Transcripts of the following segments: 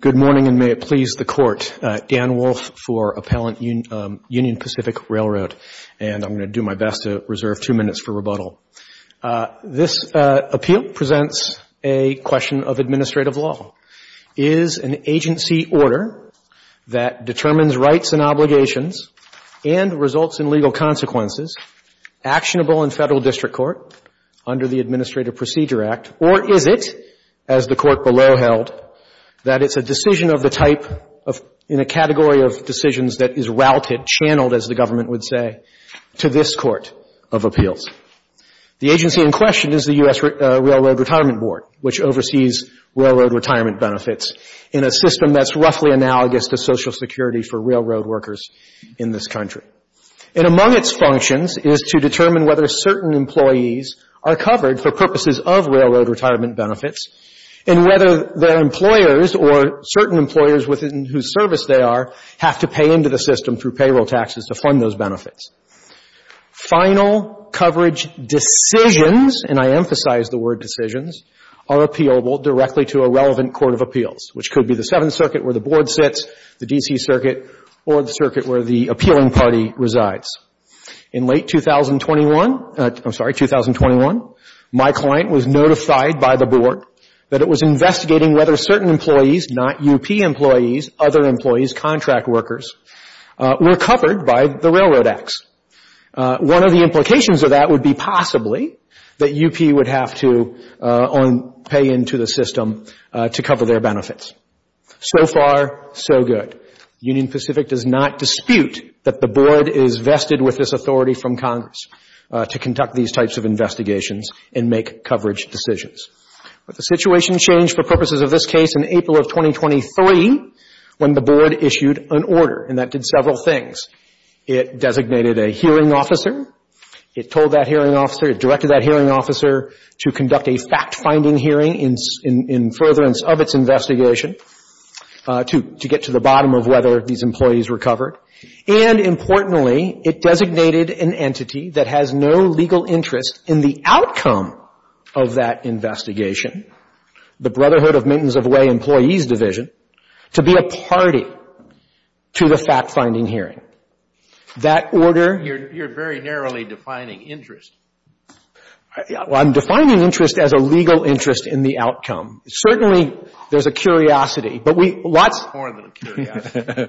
Good morning, and may it please the Court. Dan Wolfe for Appellant Union Pacific Railroad, and I'm going to do my best to reserve two minutes for rebuttal. This appeal presents a question of administrative law. Is an agency order that determines rights and obligations and results in legal consequences actionable in federal district court under the Administrative Procedure Act, or is it, as the Court below held, that it's a decision of the type of, in a category of decisions that is routed, channeled, as the government would say, to this Court of Appeals? The agency in question is the U.S. Railroad Retirement Board, which oversees railroad retirement benefits in a system that's roughly analogous to Social Security for railroad workers in this country. And among its functions is to determine whether certain employees are covered for purposes of railroad retirement benefits and whether their employers or certain employers within whose service they are have to pay into the system through payroll taxes to fund those benefits. Final coverage decisions, and I emphasize the word decisions, are appealable directly to a relevant Court of Appeals, which could be the Seventh Circuit where the Board sits, the D.C. Circuit, or the Circuit where the appealing party resides. In late 2021, I'm sorry, 2021, my client was notified by the Board that it was investigating whether certain employees, not U.P. employees, other employees, contract workers, were covered by the Railroad Acts. One of the implications of that would be possibly that U.P. would have to pay into the system to cover their benefits. So far, so good. Union Pacific does not dispute that the Board is vested with this authority from Congress to conduct these types of investigations and make coverage decisions. But the situation changed for purposes of this case in April of 2023 when the Board issued an order, and that did several things. It designated a hearing officer. It told that hearing officer, it directed that hearing officer to conduct a fact-finding hearing in furtherance of its investigation to get to the bottom of whether these employees were covered. And importantly, it designated an entity that has no legal interest in the outcome of that investigation, the Brotherhood of Maintenance-of-Way Employees Division, to be a party to the fact-finding hearing. That order — Kennedy. You're very narrowly defining interest. Well, I'm defining interest as a legal interest in the outcome. Certainly, there's a curiosity, but we — More than a curiosity.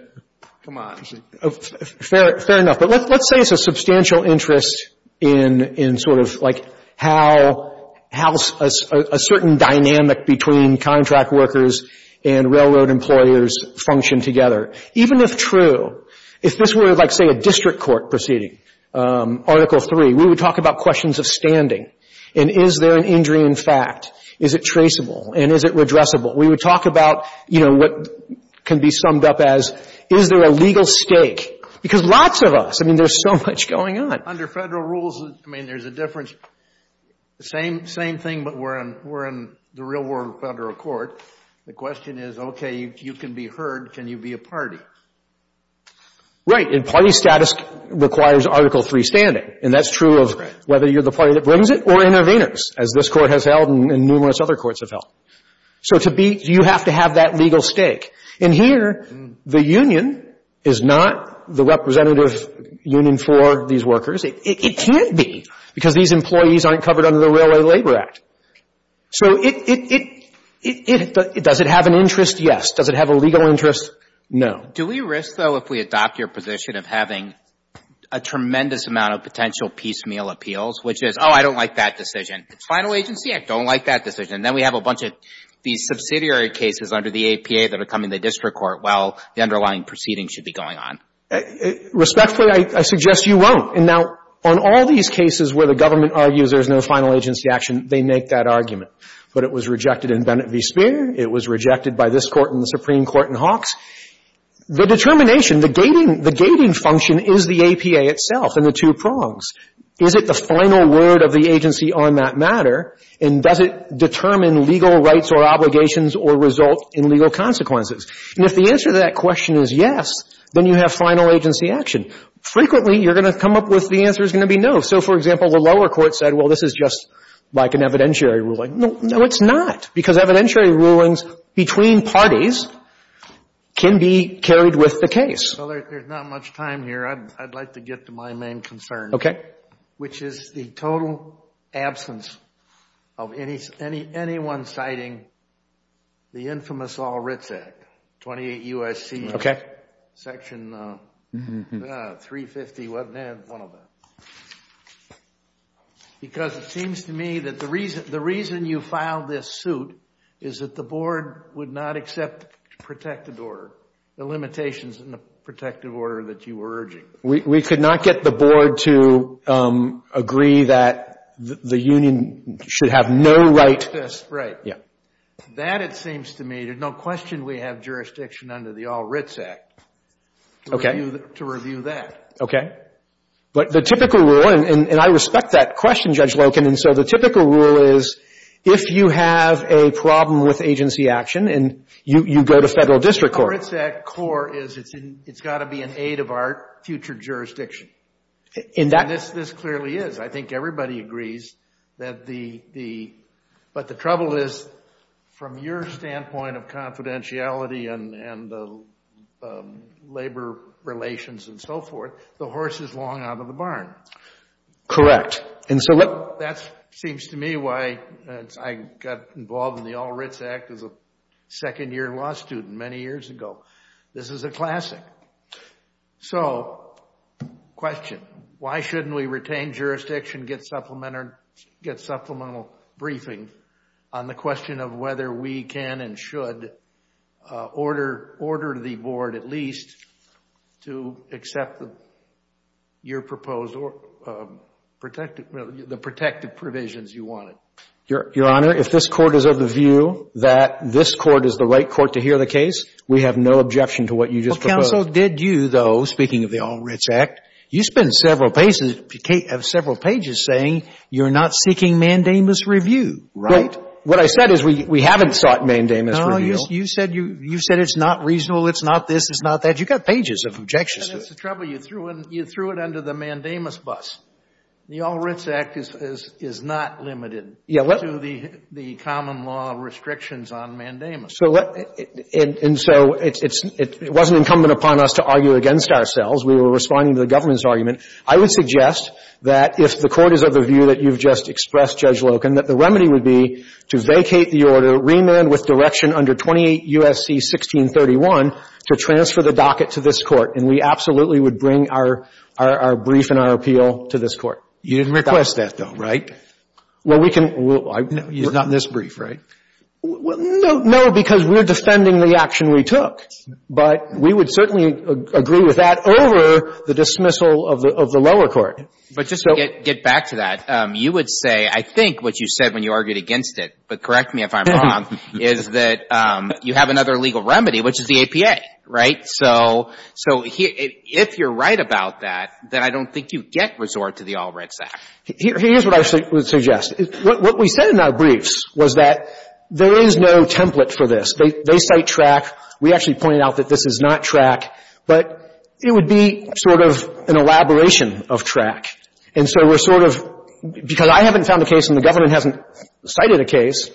Come on. Fair enough. But let's say it's a substantial interest in sort of like how a certain dynamic between contract workers and railroad employers function together. Even if true, if this were like, say, a district court proceeding, Article III, we would talk about questions of standing. And is there an injury in fact? Is it traceable? And is it redressable? We would talk about, you know, what can be summed up as, is there a legal stake? Because lots of us, I mean, there's so much going on. Under federal rules, I mean, there's a difference. Same thing, but we're in the real world of federal court. The question is, okay, you can be heard. Can you be a party? Right. And party status requires Article III standing. And that's true of whether you're the party that brings it or intervenors, as this Court has held and numerous other courts have held. So to be — you have to have that legal stake. And here, the union is not the representative union for these workers. It can't be, because these employees aren't covered under the Railway Labor Act. So it — does it have an interest? Yes. Does it have a legal interest? No. Do we risk, though, if we adopt your position, of having a tremendous amount of potential piecemeal appeals, which is, oh, I don't like that decision. It's final agency. I don't like that decision. Then we have a bunch of these subsidiary cases under the APA that are coming to district court while the underlying proceeding should be going on. Respectfully, I suggest you won't. And now, on all these cases where the government argues there's no final agency action, they make that argument. But it was rejected in Bennett v. Speer. It was rejected by this Court and the Supreme Court in Hawks. The determination, the gating — the gating function is the APA itself and the two prongs. Is it the final word of the agency on that matter? And does it determine legal rights or obligations or result in legal consequences? And if the answer to that question is yes, then you have final agency action. Frequently, you're going to come up with the answer is going to be no. So, for example, the lower court said, well, this is just like an evidentiary ruling. No, it's not. Because evidentiary rulings between parties can be carried with the case. Well, there's not much time here. I'd like to get to my main concern. Okay. Which is the total absence of anyone citing the infamous All-Writs Act, 28 U.S.C. Okay. Section 350 — one of them. Because it seems to me that the reason you filed this suit is that the board would not accept protected order, the limitations in the protected order that you were urging. We could not get the board to agree that the union should have no right — Right. Yeah. That, it seems to me, there's no question we have jurisdiction under the All-Writs Act. Okay. To review that. Okay. But the typical rule — and I respect that question, Judge Loken — and so the typical rule is if you have a problem with agency action and you go to federal district court. The All-Writs Act core is it's got to be in aid of our future jurisdiction. And this clearly is. I think everybody agrees that the — but the trouble is, from your standpoint of confidentiality and labor relations and so forth, the horse is long out of the barn. And so that seems to me why I got involved in the All-Writs Act as a second-year law student many years ago. This is a classic. So, question. Why shouldn't we retain jurisdiction, get supplemental briefing on the question of whether we can and should order the board at least to accept the — your proposed protective — the protective provisions you wanted? Your Honor, if this Court is of the view that this Court is the right Court to hear the case, we have no objection to what you just proposed. Well, counsel, did you, though, speaking of the All-Writs Act, you spent several pages saying you're not seeking mandamus review. Right. What I said is we haven't sought mandamus review. No, you said it's not reasonable, it's not this, it's not that. You've got pages of objections. And that's the trouble. You threw it under the mandamus bus. The All-Writs Act is not limited to the common law restrictions on mandamus. So let — and so it wasn't incumbent upon us to argue against ourselves. We were responding to the government's argument. I would suggest that if the Court is of the view that you've just expressed, Judge Loken, that the remedy would be to vacate the order, remand with direction under 28 U.S.C. 1631, to transfer the docket to this Court. And we absolutely would bring our — our — our brief and our appeal to this Court. You didn't request that, though, right? Well, we can — No, he's not in this brief, right? No, because we're defending the action we took. But we would certainly agree with that over the dismissal of the — of the lower court. But just to get back to that, you would say, I think what you said when you argued against it, but correct me if I'm wrong, is that you have another legal remedy, which is the APA, right? So — so if you're right about that, then I don't think you get resort to the All-Writs Act. Here's what I would suggest. What we said in our briefs was that there is no template for this. They cite track. We actually pointed out that this is not track. But it would be sort of an elaboration of track. And so we're sort of — because I haven't found a case and the government hasn't cited a case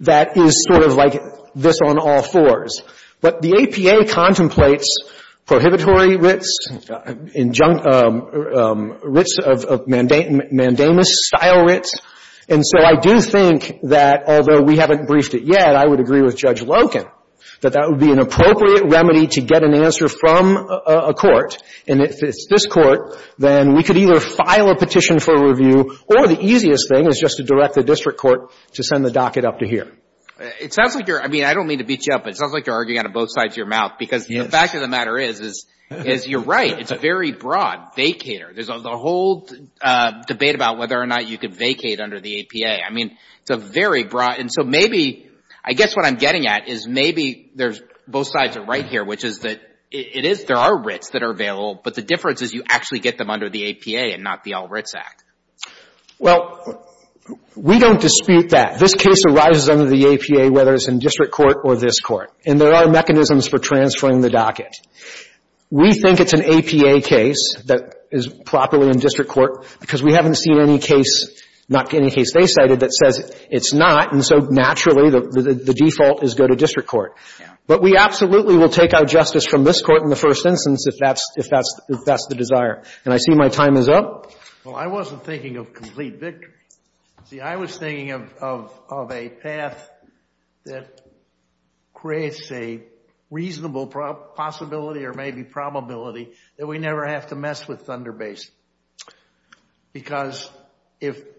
that is sort of like this on all fours. But the APA contemplates prohibitory writs, injunct — writs of — of mandamus-style writs. And so I do think that, although we haven't briefed it yet, I would agree with Judge from a court, and if it's this court, then we could either file a petition for review or the easiest thing is just to direct the district court to send the docket up to here. It sounds like you're — I mean, I don't mean to beat you up, but it sounds like you're arguing out of both sides of your mouth. Yes. Because the fact of the matter is, is — is you're right. It's a very broad vacater. There's a whole debate about whether or not you could vacate under the APA. I mean, it's a very broad — and so maybe — I guess what I'm getting at is maybe there's — both sides are right here, which is that it is — there are writs that are available, but the difference is you actually get them under the APA and not the All Writs Act. Well, we don't dispute that. This case arises under the APA whether it's in district court or this court, and there are mechanisms for transferring the docket. We think it's an APA case that is properly in district court because we haven't seen any case — not any case they cited that says it's not, and so naturally the default is go to district court. But we absolutely will take out justice from this court in the first instance if that's — if that's — if that's the desire. And I see my time is up. Well, I wasn't thinking of complete victory. See, I was thinking of — of a path that creates a reasonable possibility or maybe probability that we never have to mess with Thunder Base because if —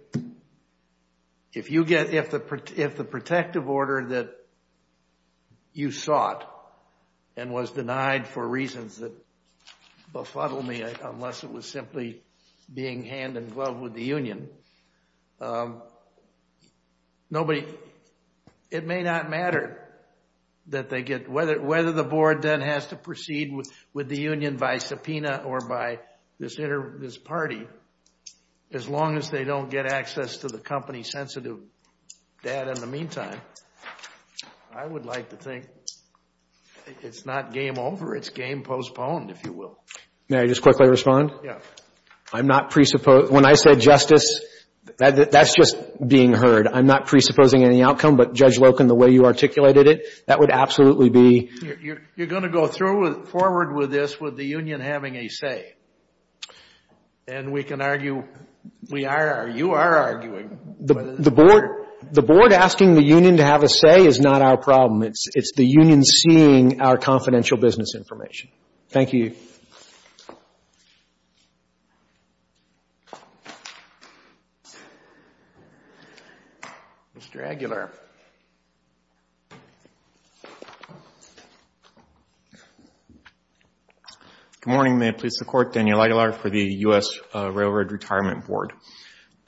if you get — if the protective order that you sought and was denied for reasons that befuddle me unless it was simply being hand-in-glove with the union, nobody — it may not matter that they get — whether the board then has to proceed with the union by subpoena or by this party as long as they don't get access to the company-sensitive data in the meantime, I would like to think it's not game over. It's game postponed, if you will. May I just quickly respond? Yeah. I'm not presuppose — when I said justice, that's just being heard. I'm not presupposing any outcome, but Judge Loken, the way you articulated it, that would absolutely be — You're going to go through with — forward with this with the union having a say. And we can argue — we are — you are arguing — The — the board — the board asking the union to have a say is not our problem. It's — it's the union seeing our confidential business information. Thank you. Mr. Aguilar. Good morning. May it please the Court. Daniel Aguilar for the U.S. Railroad Retirement Board.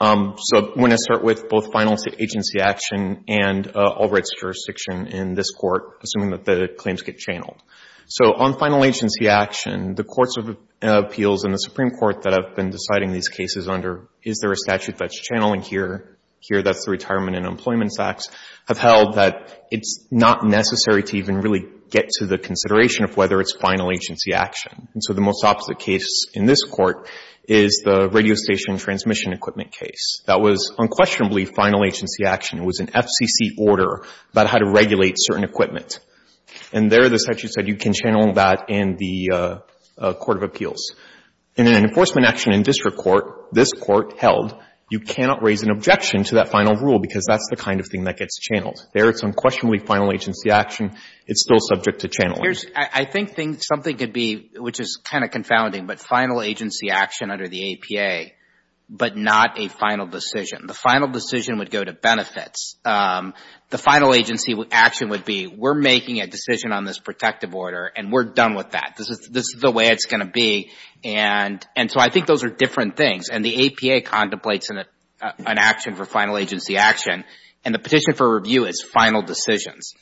So I want to start with both final agency action and Albright's jurisdiction in this court, assuming that the claims get channeled. So on final agency action, the courts of appeals and the Supreme Court that have been deciding these cases under is there a statute that's channeling here, here that's the Retirement and Employment Acts, have held that it's not necessary to even really get to the consideration of whether it's final agency action. And so the most opposite case in this court is the radio station transmission equipment case. That was unquestionably final agency action. It was an FCC order about how to regulate certain equipment. And there the statute said you can channel that in the court of appeals. In an enforcement action in district court, this court held you cannot raise an objection to that final rule because that's the kind of thing that gets channeled. There it's unquestionably final agency action. It's still subject to channeling. I think something could be, which is kind of confounding, but final agency action under the APA, but not a final decision. The final decision would go to benefits. The final agency action would be we're making a decision on this protective order and we're done with that. This is the way it's going to be. And so I think those are different things. And the APA contemplates an action for final agency action. And the petition for review is final decisions.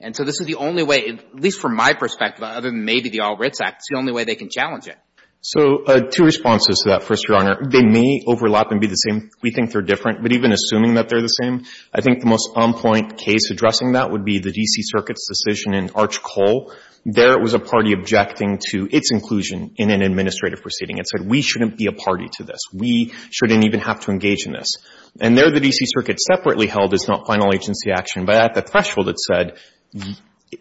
And so this is the only way, at least from my perspective, other than maybe the All Writs Act, it's the only way they can challenge it. So two responses to that, First Your Honor. They may overlap and be the same. We think they're different. But even assuming that they're the same, I think the most on-point case addressing that would be the D.C. Circuit's decision in Arch Cole. There it was a party objecting to its inclusion in an administrative proceeding. It said we shouldn't be a party to this. We shouldn't even have to engage in this. And there the D.C. Circuit separately held it's not final agency action. But at the threshold it said,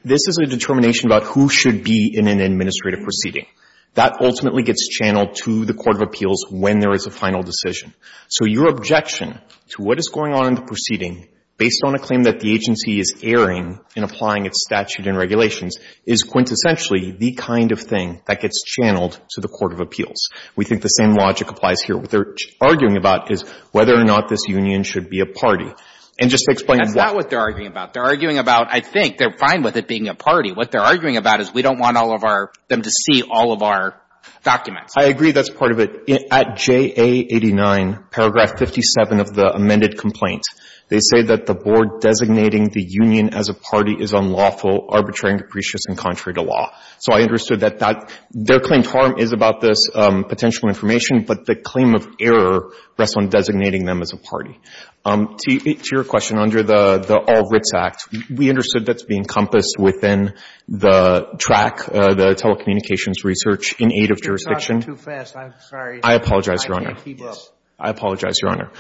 this is a determination about who should be in an administrative proceeding. That ultimately gets channeled to the Court of Appeals when there is a final decision. So your objection to what is going on in the proceeding based on a claim that the agency is erring in applying its statute and regulations is quintessentially the kind of thing that gets channeled to the Court of Appeals. We think the same logic applies here. What they're arguing about is whether or not this union should be a party. And just to explain why. They're arguing about, I think, they're fine with it being a party. What they're arguing about is we don't want all of our, them to see all of our documents. I agree that's part of it. At JA89, paragraph 57 of the amended complaint, they say that the board designating the union as a party is unlawful, arbitrary and capricious and contrary to law. So I understood that that, their claim to harm is about this potential information, but the claim of error rests on designating them as a party. To your question, under the All-Writs Act, we understood that's being encompassed within the track, the telecommunications research in aid of jurisdiction. It's not too fast. I'm sorry. I apologize, Your Honor. I can't keep up. I apologize, Your Honor.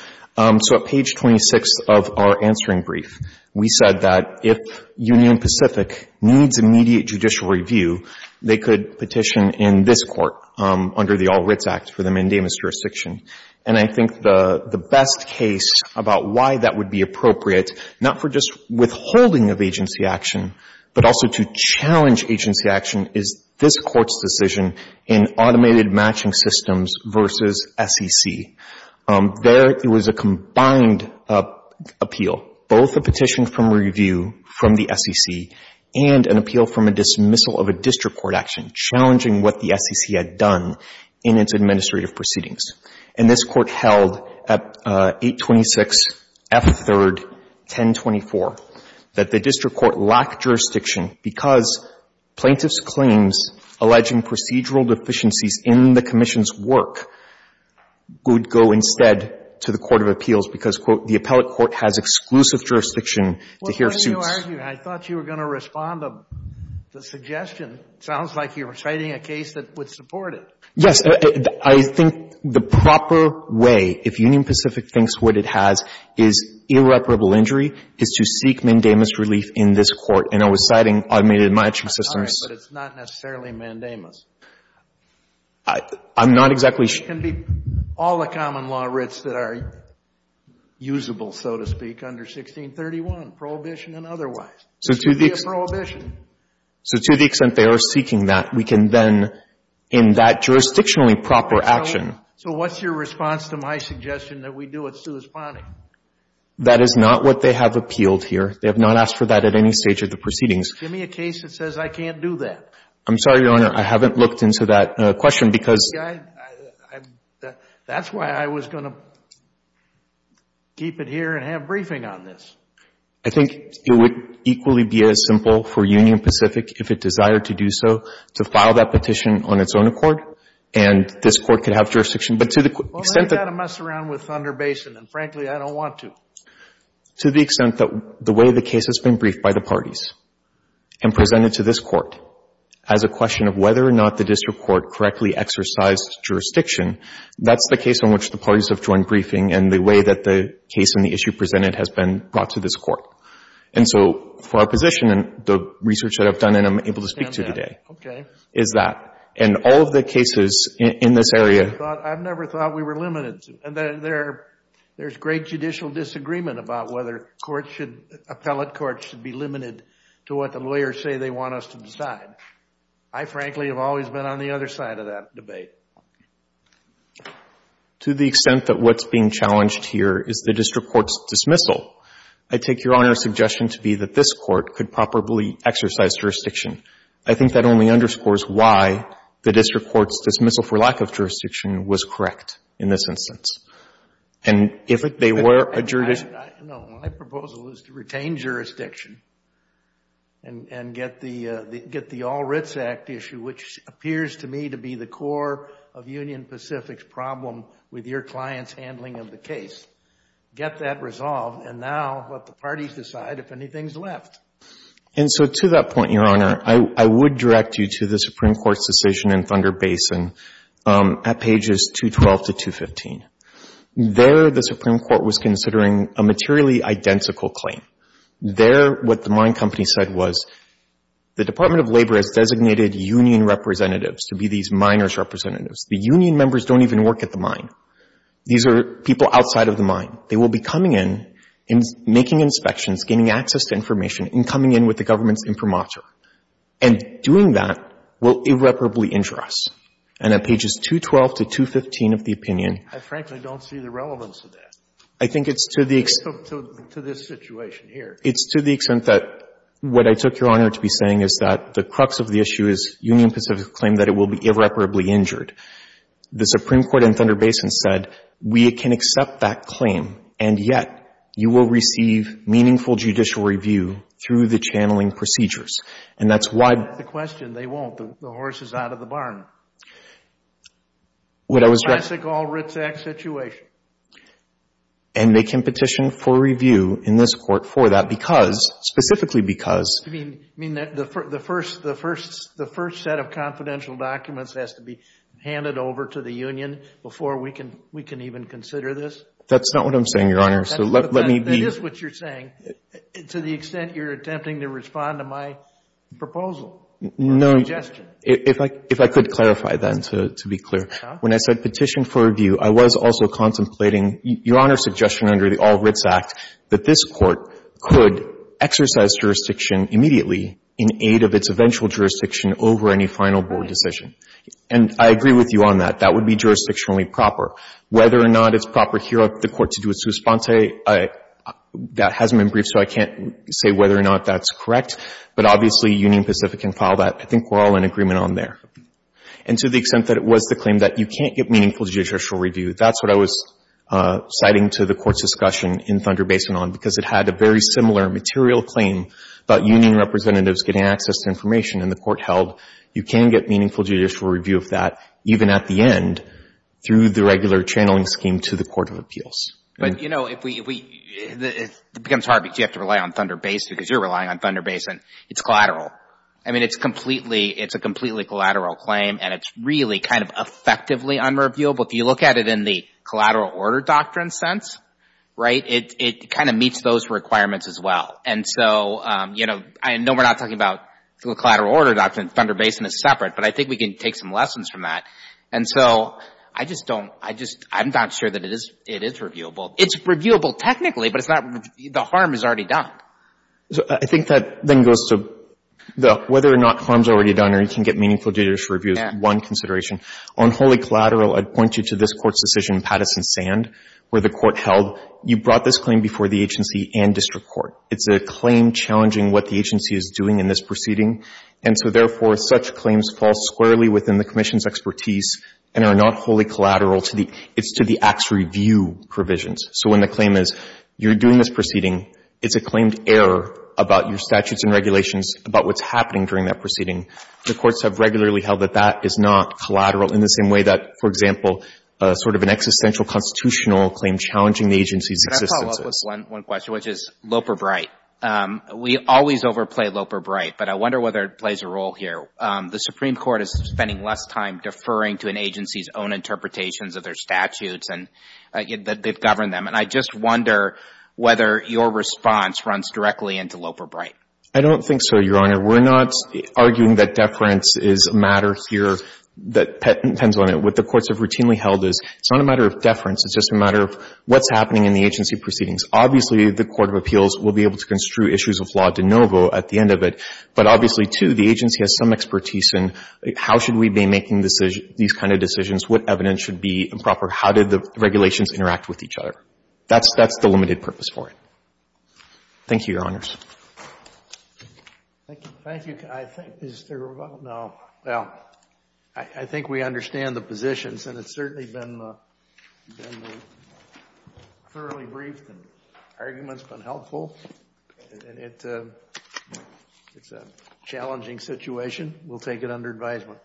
So at page 26 of our answering brief, we said that if Union Pacific needs immediate judicial review, they could petition in this Court under the All-Writs Act for the mandamus jurisdiction. And I think the best case about why that would be appropriate, not for just withholding of agency action, but also to challenge agency action, is this Court's decision in automated matching systems versus SEC. There, it was a combined appeal, both a petition from review from the SEC and an appeal from a dismissal of a district court action challenging what the SEC had done in its administrative proceedings. And this Court held at 826 F. 3rd, 1024, that the district court lacked jurisdiction because plaintiff's claims alleging procedural deficiencies in the commission's work would go instead to the court of appeals because, quote, the appellate court has exclusive jurisdiction to hear suits. When you argue, I thought you were going to respond to the suggestion. It sounds like you're citing a case that would support it. Yes. I think the proper way, if Union Pacific thinks what it has, is irreparable injury, is to seek mandamus relief in this Court. And I was citing automated matching systems. But it's not necessarily mandamus. I'm not exactly sure. It can be all the common law writs that are usable, so to speak, under 1631, prohibition and otherwise. So to the extent they are seeking that, we can then, in that jurisdiction, jurisdictionally proper action. So what's your response to my suggestion that we do a sui sponte? That is not what they have appealed here. They have not asked for that at any stage of the proceedings. Give me a case that says I can't do that. I'm sorry, Your Honor. I haven't looked into that question because. That's why I was going to keep it here and have a briefing on this. I think it would equally be as simple for Union Pacific, if it desired to do so, to file that petition on its own accord. And this Court could have jurisdiction. But to the extent that. Well, then you've got to mess around with Thunder Basin. And frankly, I don't want to. To the extent that the way the case has been briefed by the parties and presented to this Court as a question of whether or not the district court correctly exercised jurisdiction, that's the case on which the parties have joined briefing and the way that the case and the issue presented has been brought to this Court. And so for our position and the research that I've done and I'm able to speak to today. Okay. Is that. And all of the cases in this area. I've never thought we were limited to. And there's great judicial disagreement about whether courts should, appellate courts should be limited to what the lawyers say they want us to decide. I frankly have always been on the other side of that debate. To the extent that what's being challenged here is the district court's dismissal, I take Your Honor's suggestion to be that this Court could properly exercise jurisdiction. I think that only underscores why the district court's dismissal for lack of jurisdiction was correct in this instance. And if they were a jurisdiction. No, my proposal is to retain jurisdiction and get the, get the All-Writs Act issue, which appears to me to be the core of Union Pacific's problem with your client's handling of the case. Get that resolved and now let the parties decide if anything's left. And so to that point, Your Honor, I would direct you to the Supreme Court's decision in Thunder Basin at pages 212 to 215. There, the Supreme Court was considering a materially identical claim. There, what the mine company said was, the Department of Labor has designated union representatives to be these miners' representatives. The union members don't even work at the mine. These are people outside of the mine. They will be coming in and making inspections, gaining access to information, and coming in with the government's imprimatur. And doing that will irreparably injure us. And at pages 212 to 215 of the opinion. I frankly don't see the relevance of that. I think it's to the extent. To this situation here. It's to the extent that what I took Your Honor to be saying is that the crux of the issue is Union Pacific's claim that it will be irreparably injured. The Supreme Court in Thunder Basin said, we can accept that claim. And yet, you will receive meaningful judicial review through the channeling procedures. And that's why. That's the question. They won't. The horse is out of the barn. What I was. Classic all writs act situation. And they can petition for review in this court for that. Because, specifically because. You mean that the first set of confidential documents has to be handed over to the union before we can even consider this? That's not what I'm saying, Your Honor. So let me be. That is what you're saying. To the extent you're attempting to respond to my proposal. No. Suggestion. If I could clarify that and to be clear. When I said petition for review, I was also contemplating Your Honor's suggestion under the all writs act that this court could exercise jurisdiction immediately in aid of its eventual jurisdiction over any final board decision. And I agree with you on that. That would be jurisdictionally proper. Whether or not it's proper here of the court to do its response. That hasn't been briefed. So I can't say whether or not that's correct. But obviously, Union Pacific can file that. I think we're all in agreement on there. And to the extent that it was the claim that you can't get meaningful judicial review, that's what I was citing to the court's discussion in Thunder Basin on. Because it had a very similar material claim about union representatives getting access to information in the court held. You can get meaningful judicial review of that even at the end through the regular channeling scheme to the Court of Appeals. But you know, it becomes hard because you have to rely on Thunder Basin because you're relying on Thunder Basin. It's collateral. I mean, it's completely, it's a completely collateral claim. And it's really kind of effectively unreviewable. If you look at it in the collateral order doctrine sense, right, it kind of meets those requirements as well. And so, you know, I know we're not talking about the collateral order doctrine. Thunder Basin is separate. But I think we can take some lessons from that. And so I just don't, I just, I'm not sure that it is, it is reviewable. It's reviewable technically, but it's not, the harm is already done. So I think that then goes to the whether or not harm's already done or you can get meaningful judicial review is one consideration. On wholly collateral, I'd point you to this Court's decision in Pattison-Sand, where the Court held, you brought this claim before the agency and district court. It's a claim challenging what the agency is doing in this proceeding. And so, therefore, such claims fall squarely within the Commission's expertise and are not wholly collateral to the, it's to the Act's review provisions. So when the claim is, you're doing this proceeding, it's a claimed error about your statutes and regulations about what's happening during that proceeding. The courts have regularly held that that is not collateral in the same way that, for example, sort of an existential constitutional claim challenging the agency's existences. Can I follow up with one question, which is Loper-Bright. We always overplay Loper-Bright, but I wonder whether it plays a role here. The Supreme Court is spending less time deferring to an agency's own interpretations of their statutes and that they've governed them. And I just wonder whether your response runs directly into Loper-Bright. I don't think so, Your Honor. We're not arguing that deference is a matter here that depends on it. What the courts have routinely held is it's not a matter of deference. It's just a matter of what's happening in the agency proceedings. Obviously, the Court of Appeals will be able to construe issues of law de novo at the end of it, but obviously, too, the agency has some expertise in how should we be making these kind of decisions, what evidence should be improper, how did the regulations interact with each other. That's the limited purpose for it. Thank you, Your Honors. Thank you. I think we understand the positions, and it's certainly been thoroughly briefed and the argument's been helpful, and it's a challenging situation. We'll take it under advisement.